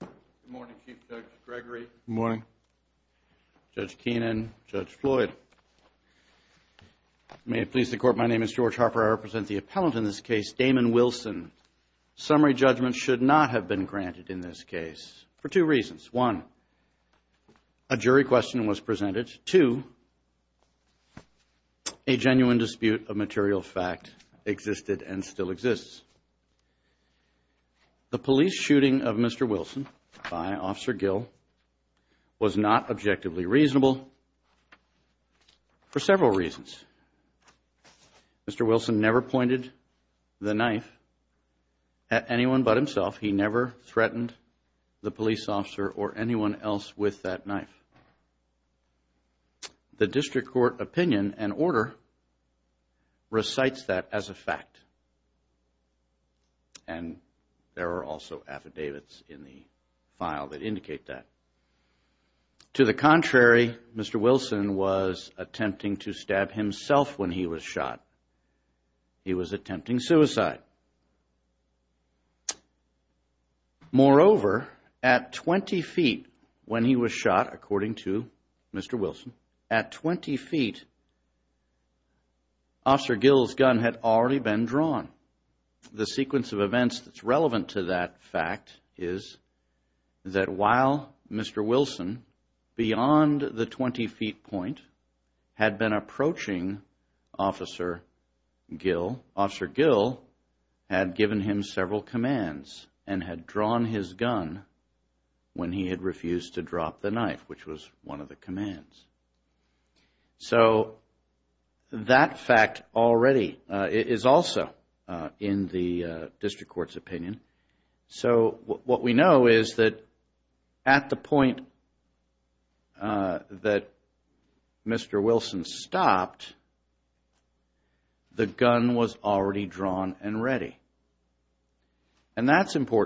Good morning Chief Judge Gregory. Good morning. Judge Keenan, Judge Floyd. May it please the court my name is George Harper I represent the appellant in this case Damon Wilson. Summary judgment should not have been granted in this case for two reasons. One, a jury question was presented. Two, a genuine dispute of Mr. Wilson by Officer Gill was not objectively reasonable for several reasons. Mr. Wilson never pointed the knife at anyone but himself. He never threatened the police officer or anyone else with that knife. The district court opinion and order recites that as a fact and there are also affidavits in the file that indicate that. To the contrary, Mr. Wilson was attempting to stab himself when he was shot. He was attempting suicide. Moreover, at 20 feet when he was shot, according to Mr. Wilson, at 20 feet, Officer Gill's gun had already been drawn. The sequence of events that's relevant to that fact is that while Mr. Wilson, beyond the 20 feet point, had been approaching Officer Gill, Officer Gill had given him several commands and had drawn his gun when he had refused to drop the knife, which was one of the commands. So that fact already is also in the district court's opinion. So what we know is that at the point that Mr. Wilson stopped, the gun was already drawn and ready. And that's where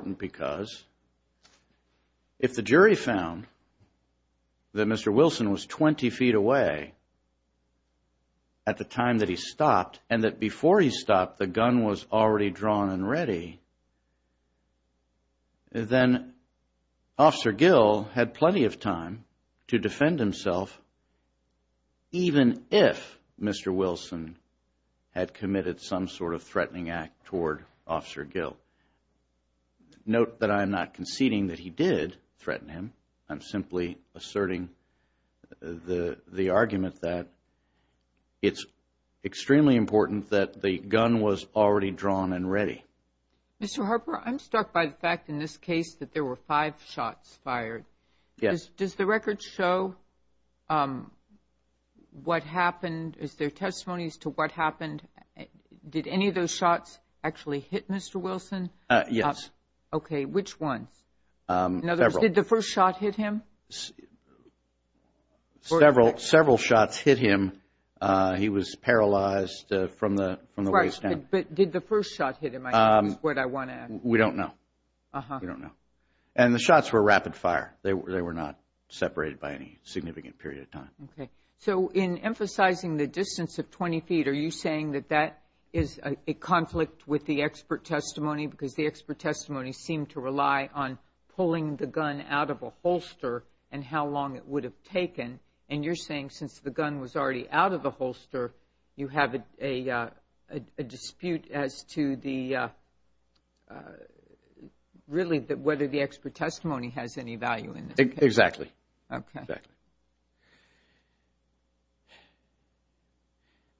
he found that Mr. Wilson was 20 feet away at the time that he stopped and that before he stopped, the gun was already drawn and ready. Then Officer Gill had plenty of time to defend himself even if Mr. Wilson had committed some sort of threatening act toward Officer Gill. Note that I am not conceding that he did threaten him. I'm simply asserting the argument that it's extremely important that the gun was already drawn and ready. Mr. Harper, I'm struck by the fact in this case that there were five shots fired. Yes. Does the record show what happened? Is there testimonies to what happened? Did any of those shots actually hit Mr. Wilson? Yes. Okay, which ones? In other words, did the first shot hit him? Several shots hit him. He was paralyzed from the waist down. But did the first shot hit him? That's what I want to ask. We don't know. We don't know. And the shots were rapid fire. They were not separated by any significant period of time. Okay. So in emphasizing the distance of 20 feet, are you saying that that is a conflict with the expert testimony? Because the expert testimony seemed to rely on pulling the gun out of a holster and how long it would have taken. And you're saying since the gun was already out of the holster, you have a dispute as to the, really, whether the expert testimony has any value in this. Exactly. Okay.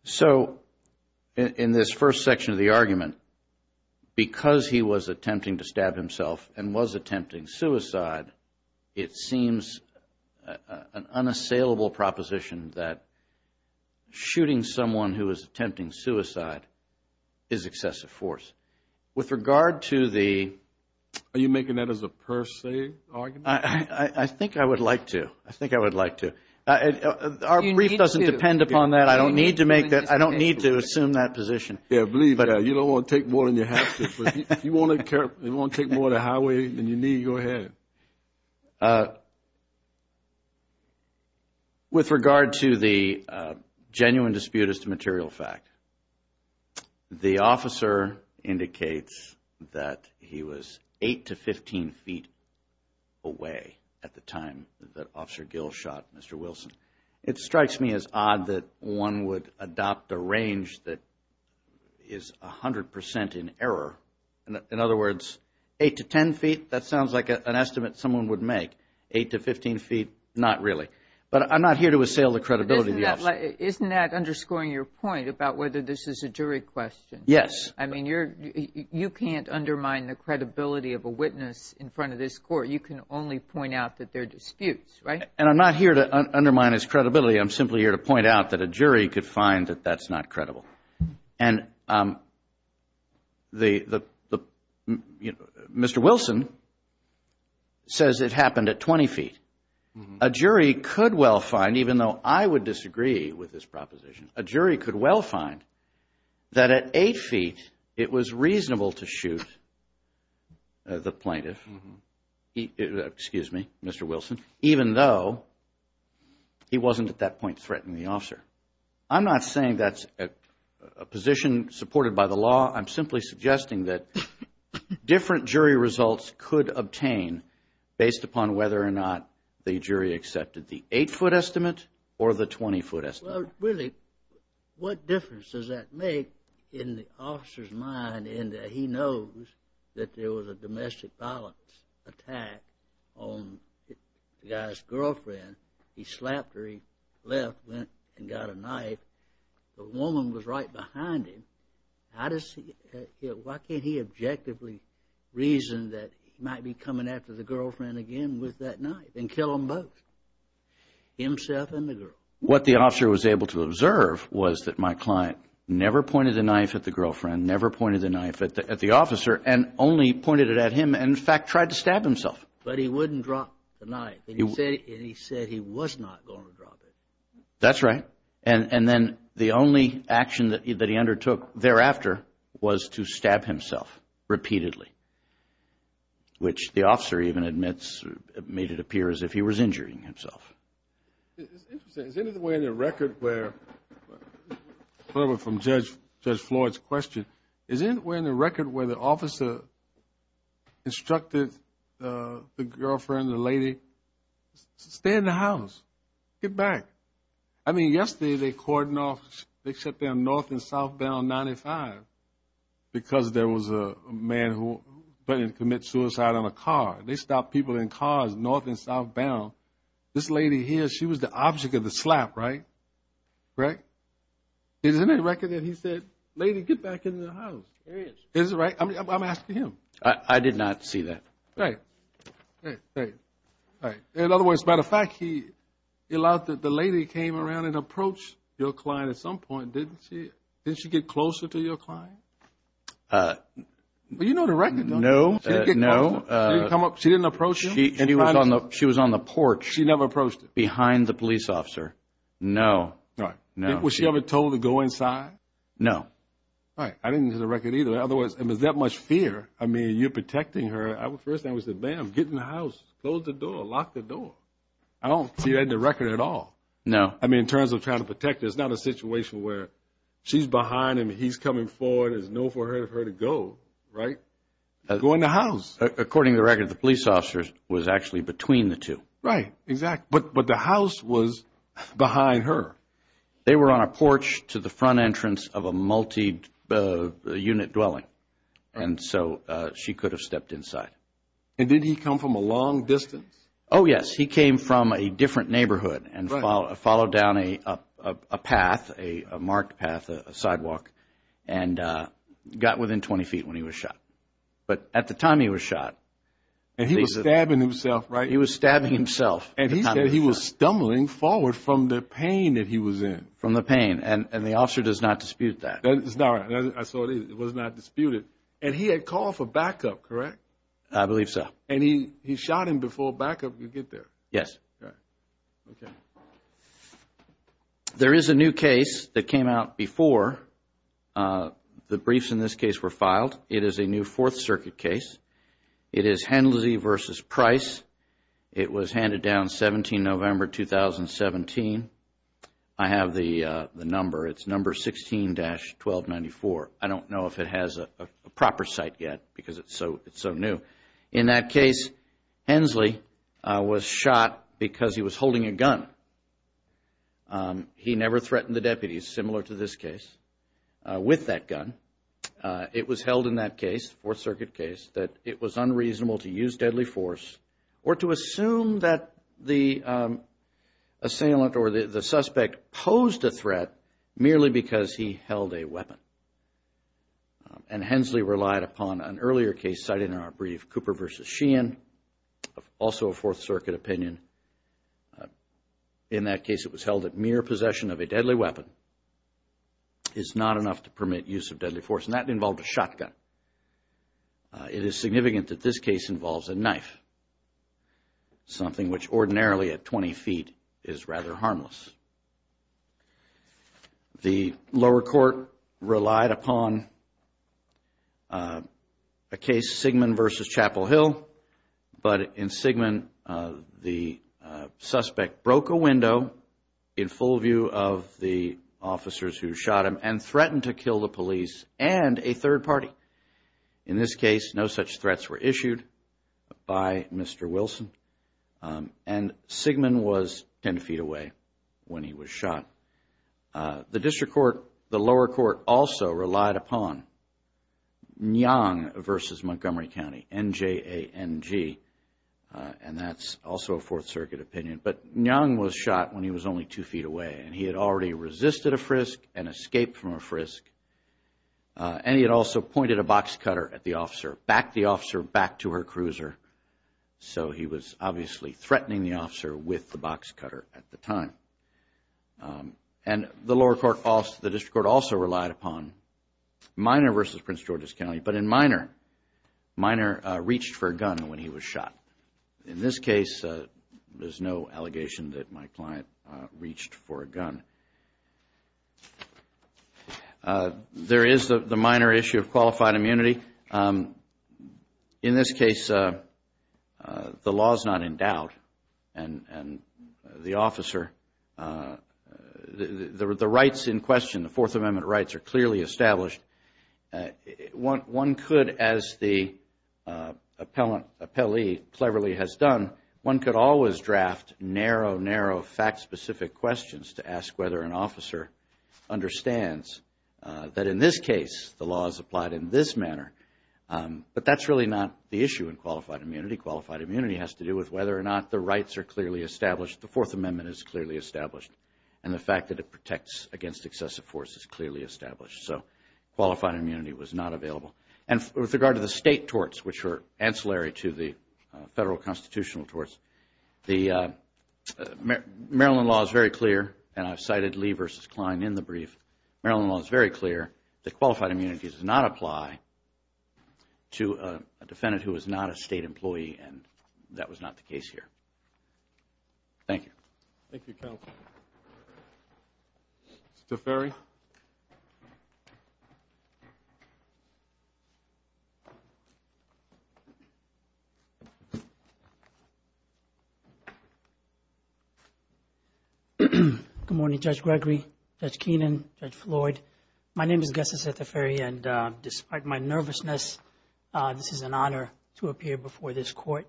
So in this first section of the argument, because he was attempting to stab himself and was attempting suicide, it seems an unassailable proposition that shooting someone who is attempting suicide is excessive force. With regard to the... Are you making that as a per se argument? I think I would like to. I think I would like to. Our brief doesn't depend upon that. I don't need to make that. I don't believe that. You don't want to take more than you have to. If you want to take more than a highway than you need, go ahead. With regard to the genuine dispute as to material fact, the officer indicates that he was 8 to 15 feet away at the time that Officer Gill shot Mr. Wilson. It strikes me as odd that one would adopt a judgment that is 100 percent in error. In other words, 8 to 10 feet, that sounds like an estimate someone would make. 8 to 15 feet, not really. But I'm not here to assail the credibility of the officer. Isn't that underscoring your point about whether this is a jury question? Yes. I mean, you can't undermine the credibility of a witness in front of this court. You can only point out that they're disputes, right? And I'm not here to undermine his credibility. I'm simply here to point out that a jury could find that that's not credible. And Mr. Wilson says it happened at 20 feet. A jury could well find, even though I would disagree with this proposition, a jury could well find that at 8 feet, it was reasonable to shoot the plaintiff, excuse me, Mr. Wilson, even though he wasn't at that point threatening the officer. I'm not saying that's a position supported by the law. I'm simply suggesting that different jury results could obtain based upon whether or not the jury accepted the 8-foot estimate or the 20-foot estimate. Really, what difference does that make in the guy's girlfriend? He slapped her, he left, went and got a knife. The woman was right behind him. How does he, why can't he objectively reason that he might be coming after the girlfriend again with that knife and kill them both, himself and the girl? What the officer was able to observe was that my client never pointed the knife at the girlfriend, never pointed the knife at the officer, and only pointed it at him and, in fact, tried to stab himself. But he wouldn't drop the knife, and he said he was not going to drop it. That's right. And then the only action that he undertook thereafter was to stab himself repeatedly, which the officer even admits made it appear as if he was injuring himself. Interesting. Is there any way in the record where, from Judge Floyd's question, is there any way in the record where the officer instructed the girlfriend, the lady, stay in the house, get back? I mean, yesterday they cordoned off, they shut down North and Southbound 95 because there was a man who threatened to commit suicide on a car. They stopped people in cars, North and Southbound. This lady here, she was the object of the slap, right? Correct? Is there any record that he said, lady, get back in the house? Is it right? I'm asking him. I did not see that. In other words, as a matter of fact, he allowed that the lady came around and approached your client at some point, didn't she? Didn't she get closer to your client? You know the record, don't you? No. She didn't approach him? She was on the porch. She never approached him? Behind the police officer? No. Was she ever told to go inside? No. All right. I didn't hear the record either. In other words, it was that much fear. I mean, you're protecting her. First thing I said, ma'am, get in the house, close the door, lock the door. I don't see that in the record at all. No. I mean, in terms of trying to protect her, it's not a situation where she's behind him, he's coming forward, there's no for her to go, right? Go in the house. According to the record, the police officer was actually between the two. Right. Exactly. But the house was behind her. They were on a porch to the front entrance of a multi-unit dwelling. And so she could have stepped inside. And did he come from a long distance? Oh, yes. He came from a different neighborhood and followed down a path, a marked path, a sidewalk, and got within 20 feet when he was shot. But at the time he was shot, he was stabbing himself, and he said he was stumbling forward from the pain that he was in. From the pain. And the officer does not dispute that. I saw it. It was not disputed. And he had called for backup, correct? I believe so. And he shot him before backup could get there? Yes. Okay. There is a new case that came out before the briefs in this case were filed. It is a new Fourth Circuit case. It is Hensley v. Price. It was handed down 17 November 2017. I have the number. It's number 16-1294. I don't know if it has a proper site yet because it's so new. But in that case, Hensley was shot because he was holding a gun. He never threatened the deputies, similar to this case, with that gun. It was held in that case, Fourth Circuit case, that it was unreasonable to use deadly force or to assume that the assailant or the suspect posed a threat merely because he held a weapon. And Hensley relied upon an earlier case cited in our brief, Cooper v. Sheehan, also a Fourth Circuit opinion. In that case, it was held that mere possession of a deadly weapon is not enough to permit use of deadly force, and that involved a shotgun. It is significant that this case involves a knife, something which ordinarily at 20 feet is rather harmless. The lower court relied upon a case, Sigmund v. Chapel Hill. But in Sigmund, the suspect broke a window in full view of the officers who shot him and threatened to kill the police and a third party. In this case, no such threats were issued by Mr. Wilson, and Sigmund was 10 feet away when he was shot. The district court, the lower court, also relied upon Ngong v. Montgomery County, N-J-A-N-G, and that's also a Fourth Circuit opinion. But Ngong was shot when he was only two feet away, and he had already resisted a frisk and escaped from a frisk. And he had also pointed a box cutter at the officer, backed the officer back to her cruiser. So, he was obviously threatening the officer with the box cutter at the time. And the lower court, the district court also relied upon Miner v. Prince George's County, but in Miner, Miner reached for a gun when he was shot. In this case, there's no allegation that my client reached for a gun. There is the minor issue of qualified immunity. In this case, the law is not in doubt, and the officer, the rights in question, the Fourth Amendment rights are clearly established. But one could, as the appellee cleverly has done, one could always draft narrow, narrow, fact-specific questions to ask whether an officer understands that in this case, the law is applied in this manner. But that's really not the issue in qualified immunity. Qualified immunity has to do with whether or not the rights are clearly established, the Fourth Amendment is clearly established, and the fact that it protects against excessive force is clearly established. So, qualified immunity was not available. And with regard to the state torts, which are ancillary to the federal constitutional torts, the Maryland law is very clear, and I've cited Lee v. Kline in the brief, Maryland law is very clear that qualified immunity does not apply to a defendant who is not a state employee, and that was not the case here. Thank you. Thank you, counsel. Mr. Teferi. Good morning, Judge Gregory, Judge Keenan, Judge Floyd. My name is Guestas Teferi, and despite my nervousness, this is an honor to appear before this court.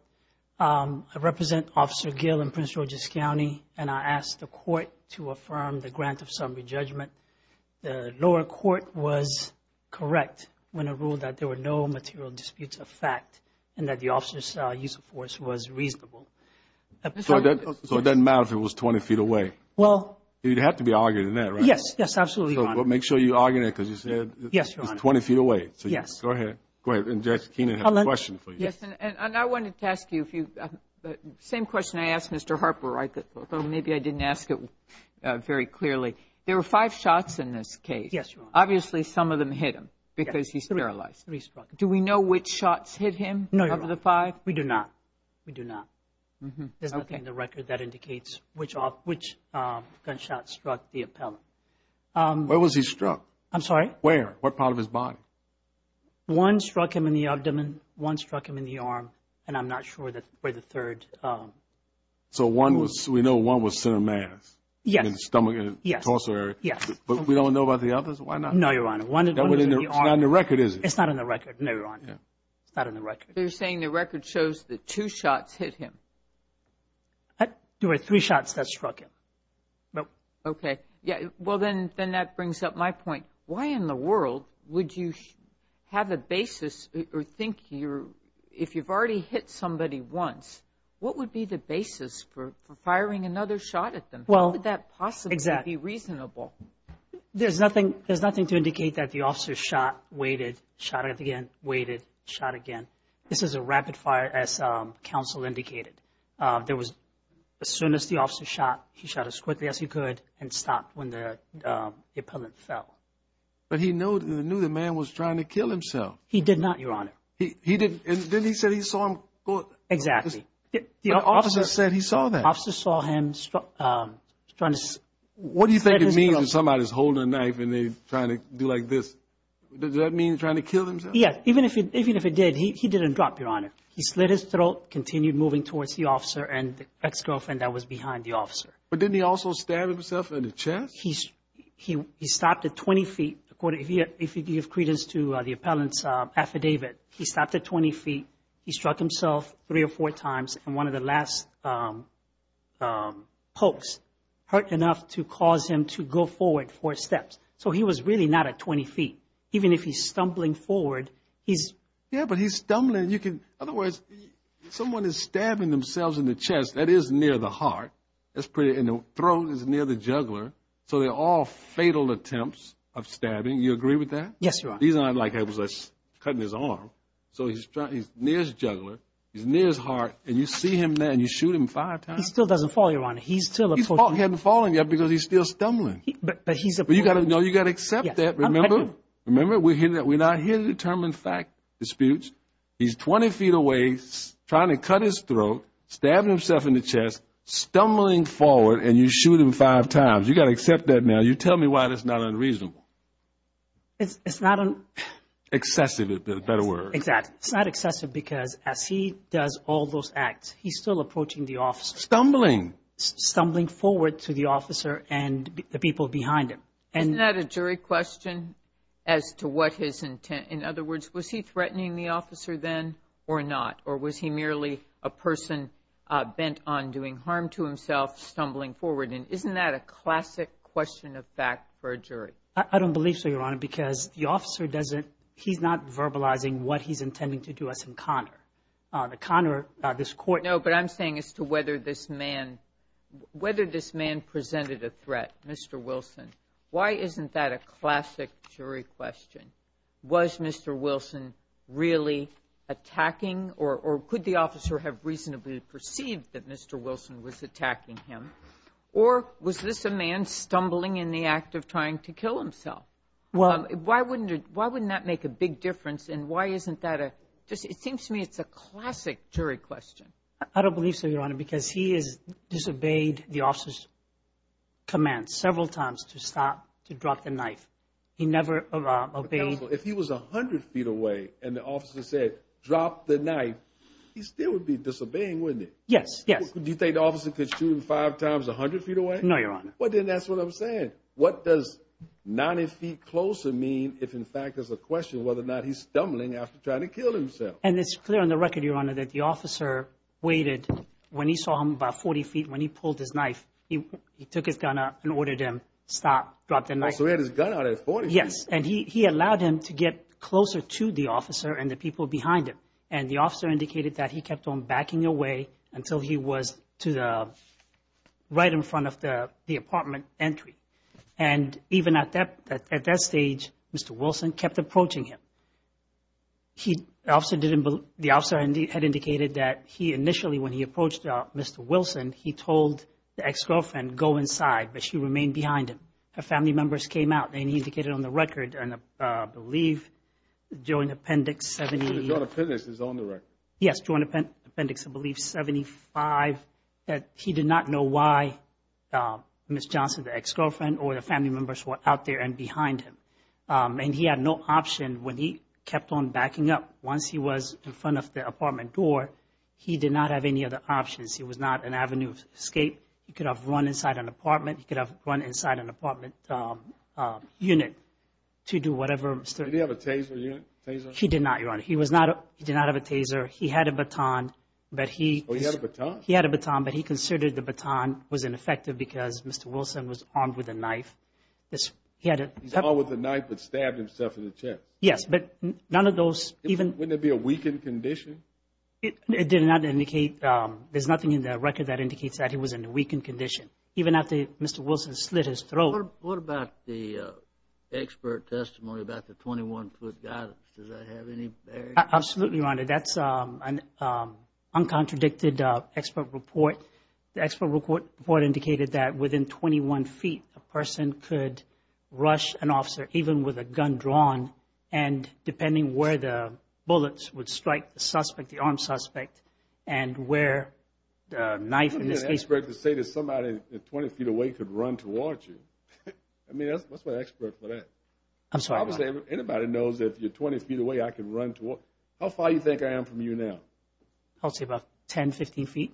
I represent Officer Gill in Prince George's County, and I ask the court to affirm the grant of summary judgment. The lower court was correct when it ruled that there were no material disputes of fact, and that the officer's use of force was reasonable. So it doesn't matter if it was 20 feet away? Well... It'd have to be argued in that, right? Yes, yes, absolutely, Your Honor. Make sure you argue it, because you said it's 20 feet away. So go ahead. Go ahead, and Judge Keenan has a question for you. Yes, and I wanted to ask you, same question I asked Mr. Harper, although maybe I didn't ask it very clearly. There were five shots in this case. Yes, Your Honor. Obviously, some of them hit him because he's sterilized. Three struck. Do we know which shots hit him of the five? We do not. We do not. There's nothing in the record that indicates which gunshot struck the appellant. Where was he struck? I'm sorry? Where? What part of his body? One struck him in the abdomen, one struck him in the arm, and I'm not sure where the third... So we know one was center mass? Yes. In the stomach and torso area? Yes. But we don't know about the others? Why not? No, Your Honor. One was in the arm. It's not in the record, is it? It's not in the record, no, Your Honor. It's not in the record. You're saying the record shows that two shots hit him? There were three shots that struck him. Okay. Yeah. Well, then that brings up my point. Why in the world would you have a basis or think if you've already hit somebody once, what would be the basis for firing another shot at them? How could that possibly be reasonable? There's nothing to indicate that the officer shot, waited, shot again, waited, shot again. This is a rapid fire, as counsel indicated. There was, as soon as the officer shot, he shot as quickly as he could and stopped when the appellant fell. But he knew the man was trying to kill himself. He did not, Your Honor. He didn't... And then he said he saw him go... Exactly. The officer... The officer said he saw that. Officer saw him trying to... What do you think it means if somebody's holding a knife and they're trying to do like this? Does that mean trying to kill themselves? Yes. Even if it did, he didn't drop, Your Honor. He slit his throat, continued moving towards the officer and the ex-girlfriend that was behind the officer. But didn't he also stab himself in the chest? He stopped at 20 feet. According, if you give credence to the appellant's affidavit, he stopped at 20 feet. He struck himself three or four times and one of the last pokes hurt enough to cause him to go forward four steps. So he was really not at 20 feet. Even if he's stumbling forward, he's... Yeah, but he's stumbling. Otherwise, someone is stabbing themselves in the chest. That is near the heart. That's pretty... And the throat is near the jugular. So they're all fatal attempts of stabbing. You agree with that? Yes, Your Honor. He's not like cutting his arm. So he's near his jugular. He's near his heart. And you see him there and you shoot him five times. He still doesn't fall, Your Honor. He's still... He hasn't fallen yet because he's still stumbling. But he's... But you got to accept that, remember? Remember, we're not here to determine fact disputes. He's 20 feet away, trying to cut his throat, stabbing himself in the chest, stumbling forward, and you shoot him five times. You got to accept that now. You tell me why that's not unreasonable. It's not an... Excessive is a better word. Exactly. It's not excessive because as he does all those acts, he's still approaching the officer. Stumbling. Stumbling forward to the officer and the people behind him. Isn't that a jury question as to what his intent... In other words, was he threatening the officer then or not? Or was he merely a person bent on doing harm to himself, stumbling forward? And isn't that a classic question of fact for a jury? I don't believe so, Your Honor, because the officer doesn't... He's not verbalizing what he's intending to do as a connor. The connor, this court... No, but I'm saying as to whether this man... Whether this man presented a threat, Mr. Wilson, why isn't that a classic jury question? Was Mr. Wilson really attacking, or could the officer have reasonably perceived that Mr. Wilson was attacking him? Or was this a man stumbling in the act of trying to kill himself? Well... Why wouldn't that make a big difference? And why isn't that a... It seems to me it's a classic jury question. I don't believe so, Your Honor, because he has disobeyed the officer's command several times to stop, to drop the knife. He never obeyed... If he was 100 feet away and the officer said, drop the knife, he still would be disobeying, wouldn't he? Yes, yes. Do you think the officer could shoot him five times 100 feet away? No, Your Honor. Well, then that's what I'm saying. What does 90 feet closer mean if, in fact, there's a question of whether or not he's stumbling after trying to kill himself? And it's clear on the record, Your Honor, that the officer waited. When he saw him about 40 feet, when he pulled his knife, he took his gun out and ordered him, stop, drop the knife. So he had his gun out at 40 feet. Yes, and he allowed him to get closer to the officer and the people behind him. And the officer indicated that he kept on backing away until he was to the... right in front of the apartment entry. And even at that stage, Mr. Wilson kept approaching him. The officer had indicated that he initially, when he approached Mr. Wilson, he told the ex-girlfriend, go inside, but she remained behind him. Her family members came out, and he indicated on the record, I believe, joint appendix 70... His own appendix is on the record. Yes, joint appendix, I believe, 75, that he did not know why Ms. Johnson, the ex-girlfriend, or the family members were out there and behind him. And he had no option when he kept on backing up. Once he was in front of the apartment door, he did not have any other options. He was not an avenue escape. He could have run inside an apartment. He could have run inside an apartment unit to do whatever... Did he have a taser unit? He did not, Your Honor. He was not... He did not have a taser. He had a baton, but he... Oh, he had a baton? He had a baton, but he considered the baton was ineffective because Mr. Wilson was armed with a knife. He had a... He's armed with a knife, but stabbed himself in the chest. Yes, but none of those even... Wouldn't it be a weakened condition? It did not indicate... There's nothing in the record that indicates that he was in a weakened condition. Even after Mr. Wilson slit his throat... What about the expert testimony about the 21-foot guidance? Does that have any bearing? Absolutely, Your Honor. That's an uncontradicted expert report. The expert report indicated that within 21 feet, a person could rush an officer, even with a gun drawn, and depending where the bullets would strike the suspect, the armed suspect, and where the knife in this case... To say that somebody 20 feet away could run towards you. I mean, what's my expert for that? I'm sorry, Your Honor. Anybody knows if you're 20 feet away, I can run towards... How far do you think I am from you now? I'll say about 10, 15 feet.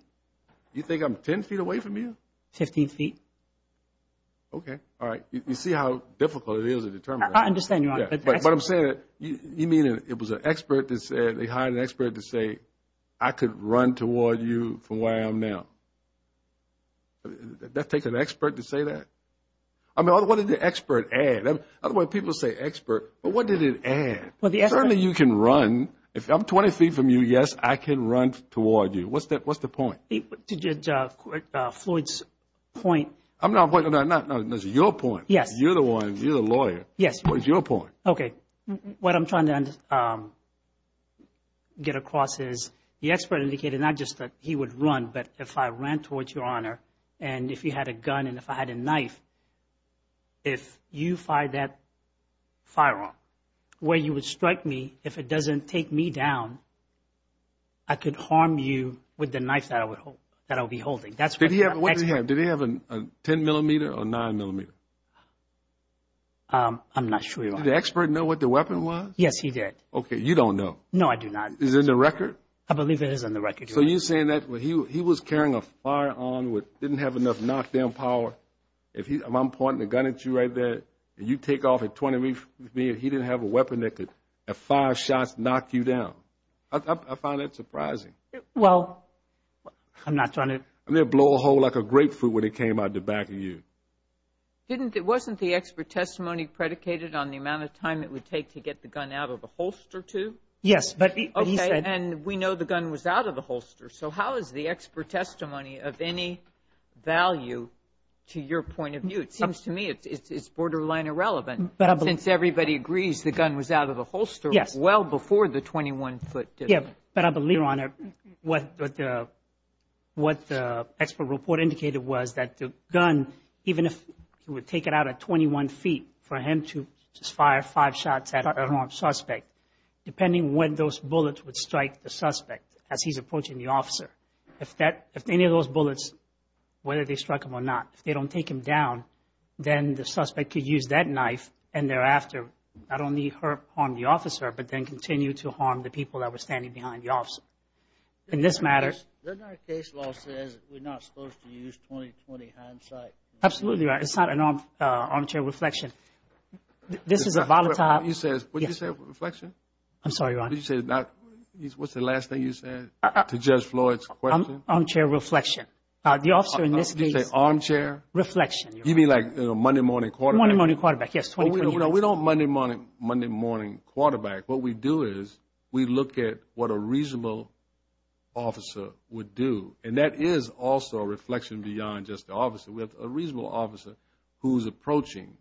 You think I'm 10 feet away from you? 15 feet. Okay. All right. You see how difficult it is to determine that? I understand, Your Honor, but... But I'm saying that you mean it was an expert that said... They hired an expert to say, I could run toward you from where I am now. Did that take an expert to say that? I mean, what did the expert add? Otherwise, people say expert, but what did it add? Well, the expert... Certainly, you can run. If I'm 20 feet from you, yes, I can run toward you. What's the point? Floyd's point... I'm not... No, no, no, it's your point. Yes. You're the one, you're the lawyer. Yes. What is your point? Okay. What I'm trying to get across is, the expert indicated not just that he would run, but if I ran towards you, Your Honor, and if you had a gun and if I had a knife, if you fired that firearm where you would strike me, if it doesn't take me down, I could harm you with the knife that I would hold, that I'll be holding. That's what the expert... Did he have a 10 millimeter or nine millimeter? I'm not sure, Your Honor. Did the expert know what the weapon was? Yes, he did. Okay. No, I do not. Is it in the record? I believe it is in the record, Your Honor. So you're saying that he was carrying a firearm that didn't have enough knock-down power. I'm pointing the gun at you right there, and you take off at 20 meters with me, and he didn't have a weapon that could, at five shots, knock you down. I find that surprising. Well, I'm not trying to... I'm going to blow a hole like a grapefruit when it came out the back of you. It wasn't the expert testimony predicated on the amount of time it would take to get the gun out of a holster, too? Yes, but he said... So how is the expert testimony of any value to your point of view? It seems to me it's borderline irrelevant, since everybody agrees the gun was out of a holster well before the 21-foot distance. Yeah, but I believe, Your Honor, what the expert report indicated was that the gun, even if he would take it out at 21 feet, for him to just fire five shots at a wrong suspect, depending when those bullets would strike the suspect as he's approaching the officer. If any of those bullets, whether they struck him or not, if they don't take him down, then the suspect could use that knife, and thereafter, not only harm the officer, but then continue to harm the people that were standing behind the officer. In this matter... Doesn't our case law say we're not supposed to use 20-20 hindsight? Absolutely, Your Honor. It's not an armchair reflection. This is a volatile... You said... What did you say, reflection? I'm sorry, Your Honor. What's the last thing you said to Judge Floyd's question? Armchair reflection. The officer in this case... Did you say armchair? Reflection, Your Honor. You mean like Monday morning quarterback? Monday morning quarterback, yes, 20-20. We don't Monday morning quarterback. What we do is we look at what a reasonable officer would do, and that is also a reflection beyond just the officer. We have a reasonable officer who's approaching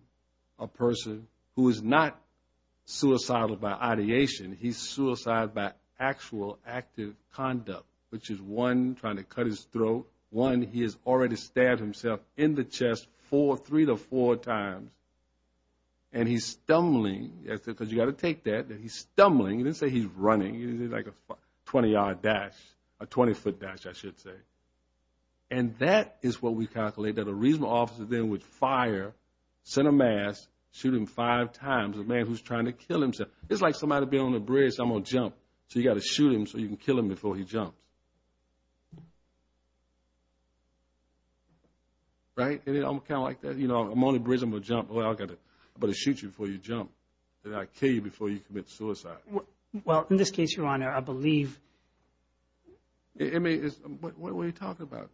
a person who is not suicidal by ideation. He's suicidal by actual active conduct, which is one, trying to cut his throat. One, he has already stabbed himself in the chest four, three to four times, and he's stumbling, because you got to take that, that he's stumbling. You didn't say he's running. He did like a 20-yard dash, a 20-foot dash, I should say. And that is what we calculate, that a reasonable officer then would fire, send a mass, shoot him five times, a man who's trying to kill himself. It's like somebody being on a bridge. I'm going to jump. So you got to shoot him so you can kill him before he jumps. Right, and then I'm kind of like that, you know, I'm on the bridge, I'm going to jump. Well, I got to, I'm going to shoot you before you jump, and I'll kill you before you commit suicide. Well, in this case, Your Honor, I believe... It may, what are you talking about?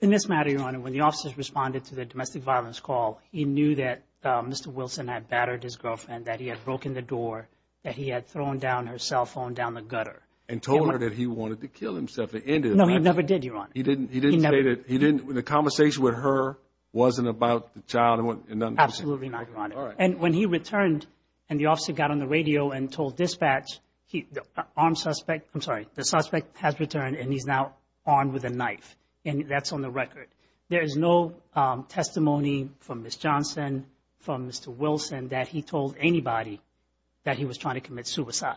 In this matter, Your Honor, when the officers responded to the domestic violence call, he knew that Mr. Wilson had battered his girlfriend, that he had broken the door, that he had thrown down her cell phone down the gutter. And told her that he wanted to kill himself. The end of it. No, he never did, Your Honor. He didn't, he didn't say that, he didn't, the conversation with her wasn't about the child. Absolutely not, Your Honor. And when he returned and the officer got on the radio and told dispatch, he, the armed suspect, I'm sorry, the suspect has returned and he's now armed with a knife. And that's on the record. There is no testimony from Ms. Johnson, from Mr. Wilson, that he told anybody that he was trying to commit suicide.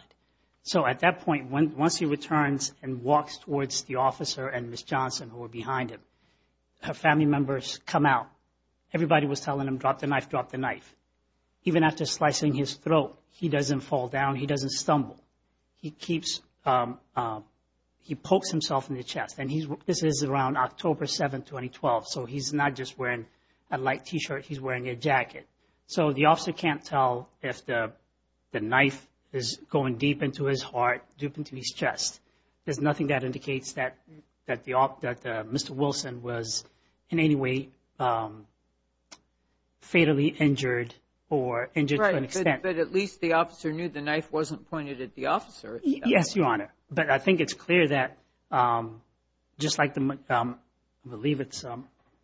So at that point, once he returns and walks towards the officer and Ms. Johnson, who were behind him, her family members come out. Everybody was telling him, drop the knife, drop the knife. Even after slicing his throat, he doesn't fall down, he doesn't stumble. He keeps, he pokes himself in the chest. And he's, this is around October 7th, 2012. So he's not just wearing a light t-shirt, he's wearing a jacket. So the officer can't tell if the knife is going deep into his heart, deep into his chest. There's nothing that indicates that Mr. Wilson was in any way fatally injured or injured to an extent. But at least the officer knew the knife wasn't pointed at the officer. Yes, Your Honor. But I think it's clear that, just like the, I believe it's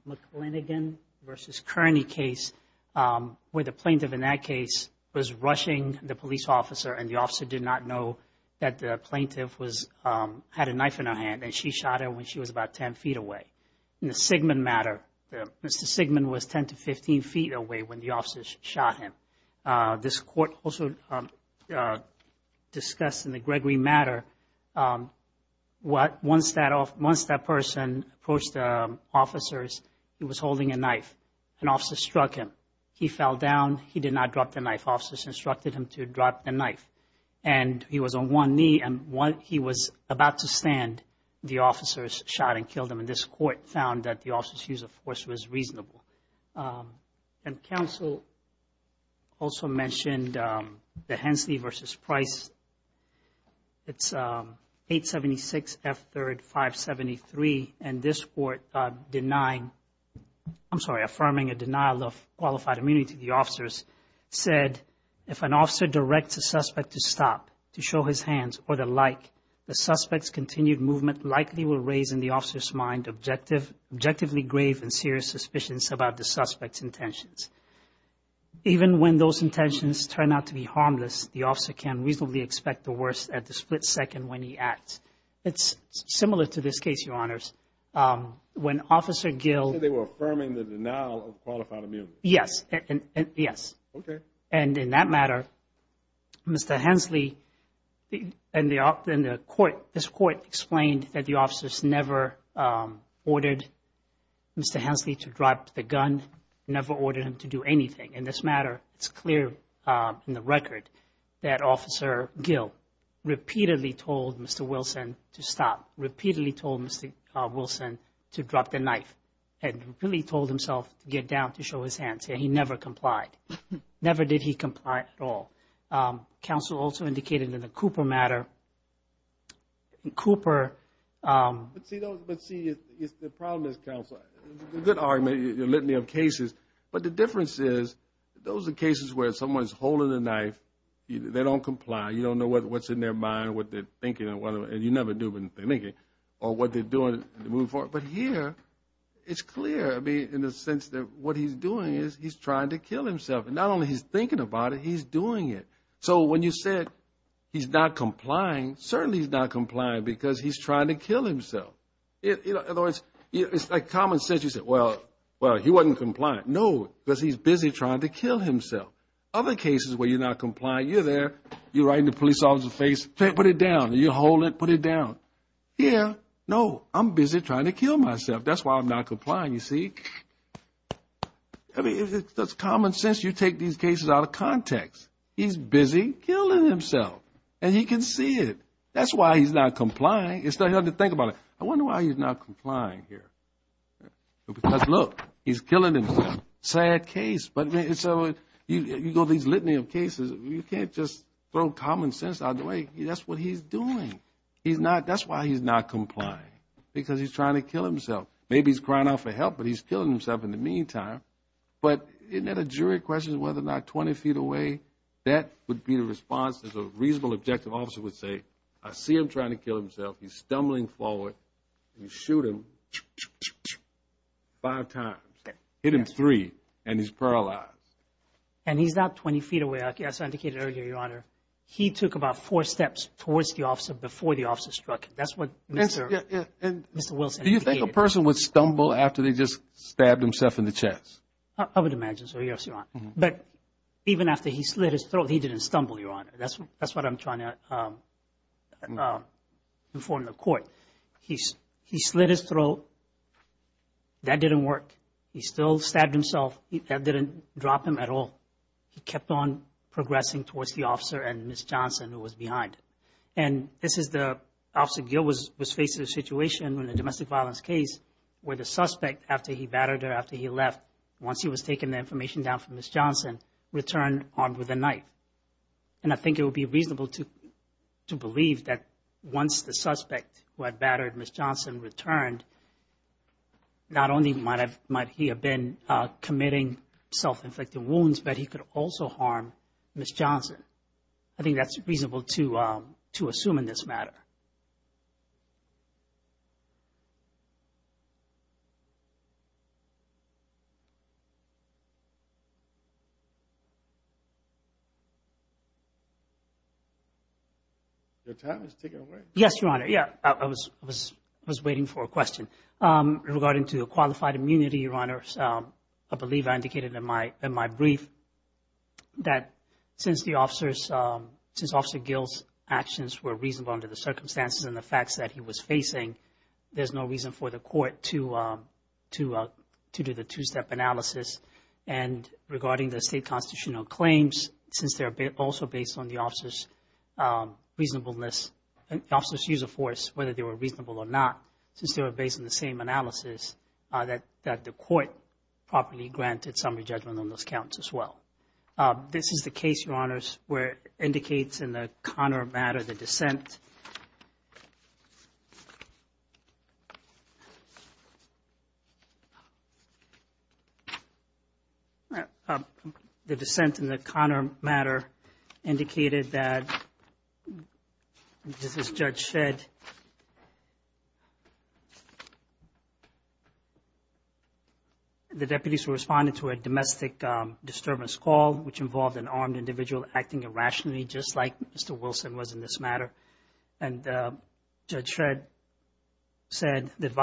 McLinigan versus Kearney case, where the plaintiff in that case was rushing the police officer and the officer did not know that the plaintiff was, had a knife in her hand and she shot her when she was about 10 feet away. In the Sigmund matter, Mr. Sigmund was 10 to 15 feet away when the officers shot him. This court also discussed in the Gregory matter, what, once that person approached the officers, he was holding a knife. An officer struck him. He fell down. He did not drop the knife. Officers instructed him to drop the knife. And he was on one knee and when he was about to stand, the officers shot and killed him. And this court found that the officer's use of force was reasonable. And counsel also mentioned the Hensley versus Price. It's 876 F3rd 573. And this court denying, I'm sorry, affirming a denial of qualified immunity. The officers said, if an officer directs a suspect to stop, to show his hands or the like, the suspect's continued movement likely will raise in the officer's mind objective, objectively grave and serious suspicions about the suspect's intentions. Even when those intentions turn out to be harmless, the officer can reasonably expect the worst at the split second when he acts. It's similar to this case, your honors. When officer Gill... Yes, yes. And in that matter, Mr. Hensley and the court, this court explained that the officers never ordered Mr. Hensley to drop the gun, never ordered him to do anything. In this matter, it's clear in the record that officer Gill repeatedly told Mr. Wilson to stop, repeatedly told Mr. Wilson to drop the knife and really told himself to get down to show his hands. He never complied. Never did he comply at all. Counsel also indicated in the Cooper matter, Cooper... But see, the problem is, counsel, it's a good argument, you're letting me have cases, but the difference is those are cases where someone's holding a knife, they don't comply, you don't know what's in their mind or what they're thinking and you never do what they're thinking or what they're doing to move forward. But here, it's clear, I mean, the sense that what he's doing is he's trying to kill himself and not only he's thinking about it, he's doing it. So when you said he's not complying, certainly he's not complying because he's trying to kill himself. In other words, it's like common sense, you said, well, he wasn't compliant. No, because he's busy trying to kill himself. Other cases where you're not complying, you're there, you're right in the police officer's face, put it down, you hold it, put it down. Here, no, I'm busy trying to kill myself, that's why I'm not complying, you see? I mean, if it's just common sense, you take these cases out of context. He's busy killing himself and he can see it. That's why he's not complying. It's not hard to think about it. I wonder why he's not complying here. Look, he's killing himself, sad case. But so you go these litany of cases, you can't just throw common sense out the way. That's what he's doing. That's why he's not complying because he's trying to kill himself. Maybe he's crying out for help, but he's killing himself in the meantime. But isn't that a jury question, whether or not 20 feet away, that would be the response as a reasonable objective officer would say, I see him trying to kill himself. He's stumbling forward. You shoot him five times, hit him three, and he's paralyzed. And he's not 20 feet away, as I indicated earlier, Your Honor. He took about four steps towards the officer before the officer struck him. That's what Mr. Wilson indicated. Do you think a person would stumble after they just stabbed himself in the chest? I would imagine so, yes, Your Honor. But even after he slit his throat, he didn't stumble, Your Honor. That's what I'm trying to inform the court. He slit his throat. That didn't work. He still stabbed himself. That didn't drop him at all. He kept on progressing towards the officer and Ms. Johnson, who was behind. And this is the officer, Gil, was facing a situation in a domestic violence case where the suspect, after he battered her, after he left, once he was taken the information down from Ms. Johnson, returned armed with a knife. And I think it would be reasonable to believe that once the suspect who had battered Ms. Johnson returned, not only might he have been committing self-inflicted wounds, but he could also harm Ms. Johnson. I think that's reasonable to assume in this matter. Your time has taken away. Yes, Your Honor. Yeah, I was waiting for a question. Regarding to qualified immunity, Your Honor, I believe I indicated in my brief that since Officer Gil's actions were reasonable under the circumstances and the facts that he was facing, there's no reason for the court to do the two-step analysis. And regarding the state constitutional claims, since they're also based on the officer's reasonableness, officer's use of force, whether they were reasonable or not, since they were based on the same analysis, that the court properly granted summary judgment on those counts as well. This is the case, Your Honors, where it indicates in the Connor matter, the dissent in the Connor matter indicated that, just as Judge said, the deputies were responding to a domestic disturbance call, which involved an armed individual acting irrationally, just like Mr. Wilson was in this matter. And Judge Shred said This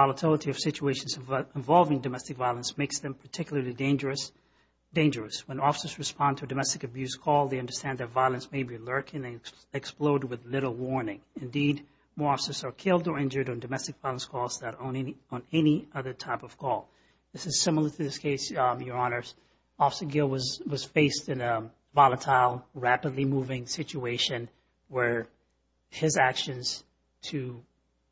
is similar to this case, Your Honors. rapidly moving situation where his actions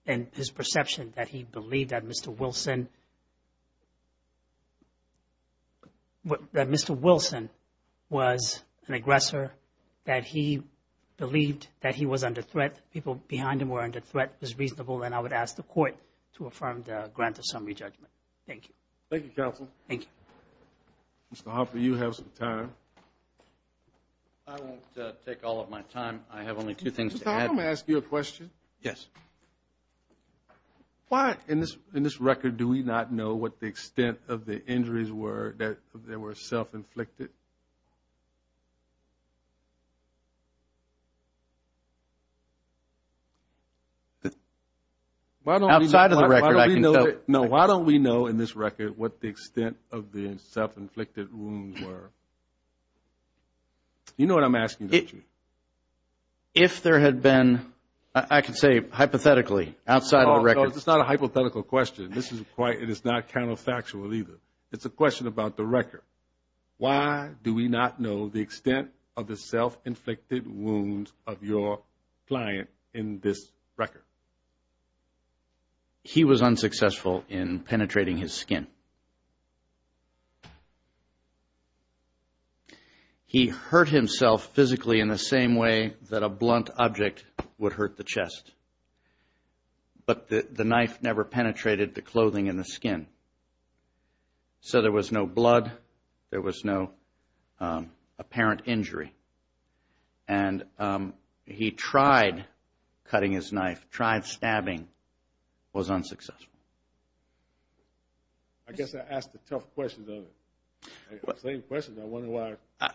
and his perception that he believed that Mr. Wilson was an aggressor, that he believed that he was under threat, people behind him were under threat, was reasonable, and I would ask the court to affirm the grant of summary judgment. Thank you. Thank you, counsel. Thank you. Mr. Hoffer, you have some time. I won't take all of my time. I have only two things to add. Let me ask you a question. Yes. Why, in this record, do we not know what the extent of the injuries were that they were self-inflicted? Outside of the record, I can tell. No, why don't we know in this record what the extent of the self-inflicted wounds were? You know what I'm asking, don't you? If there had been, I can say hypothetically, outside of the record. It's not a hypothetical question. This is quite, it is not counterfactual either. It's a question about the record. Why do we not know the extent of the self-inflicted wounds of your client in this record? He was unsuccessful in penetrating his skin. He hurt himself physically in the same way that a blunt object would hurt the chest. But the knife never penetrated the clothing and the skin. So there was no blood. There was no apparent injury. And he tried cutting his knife, tried stabbing, was unsuccessful. I guess I asked a tough question though. Same question. I wonder why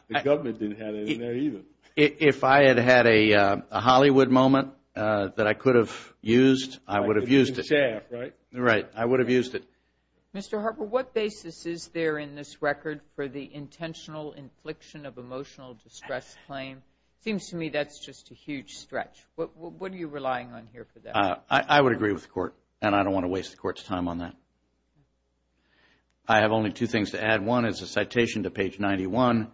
the government didn't have it in there either. If I had had a Hollywood moment that I could have used, I would have used it. In chaff, right? Right, I would have used it. Mr. Harper, what basis is there in this record for the intentional infliction of emotional distress claim? Seems to me that's just a huge stretch. What are you relying on here for that? I would agree with the court. And I don't want to waste the court's time on that. I have only two things to add. One is a citation to page 91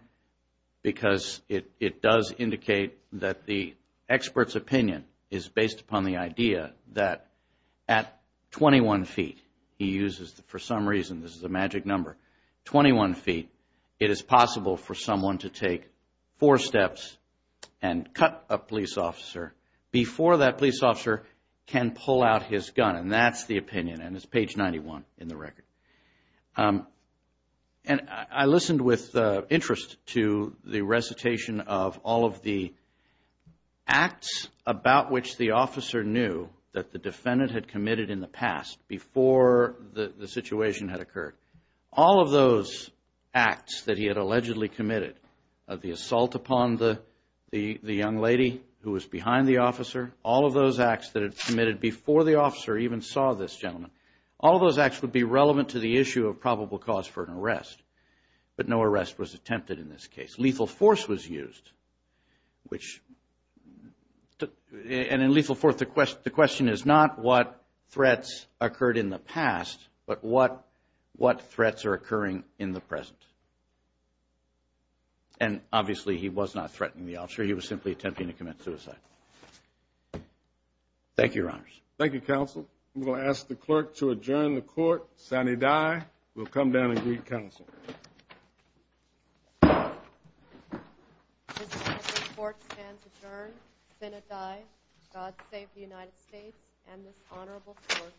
because it does indicate that the expert's opinion is based upon the idea that at 21 feet, he uses for some reason, this is a magic number, 21 feet, it is possible for someone to take four steps and cut a police officer before that police officer can pull out his gun. And that's the opinion. And it's page 91 in the record. And I listened with interest to the recitation of all of the acts about which the officer knew that the defendant had committed in the past before the situation had occurred. All of those acts that he had allegedly committed, the assault upon the young lady who was behind the officer, all of those acts that had committed before the officer even saw this gentleman, all of those acts would be relevant to the issue of probable cause for an arrest. But no arrest was attempted in this case. Lethal force was used, which, and in lethal force, the question is not what threats occurred in the past, but what threats are occurring in the present. And obviously, he was not threatening the officer. He was simply attempting to commit suicide. Thank you, Your Honors. Thank you, Counsel. I'm going to ask the clerk to adjourn the court. Sani Dye will come down and greet Counsel. This court stands adjourned. Sani Dye, God save the United States and this honorable court.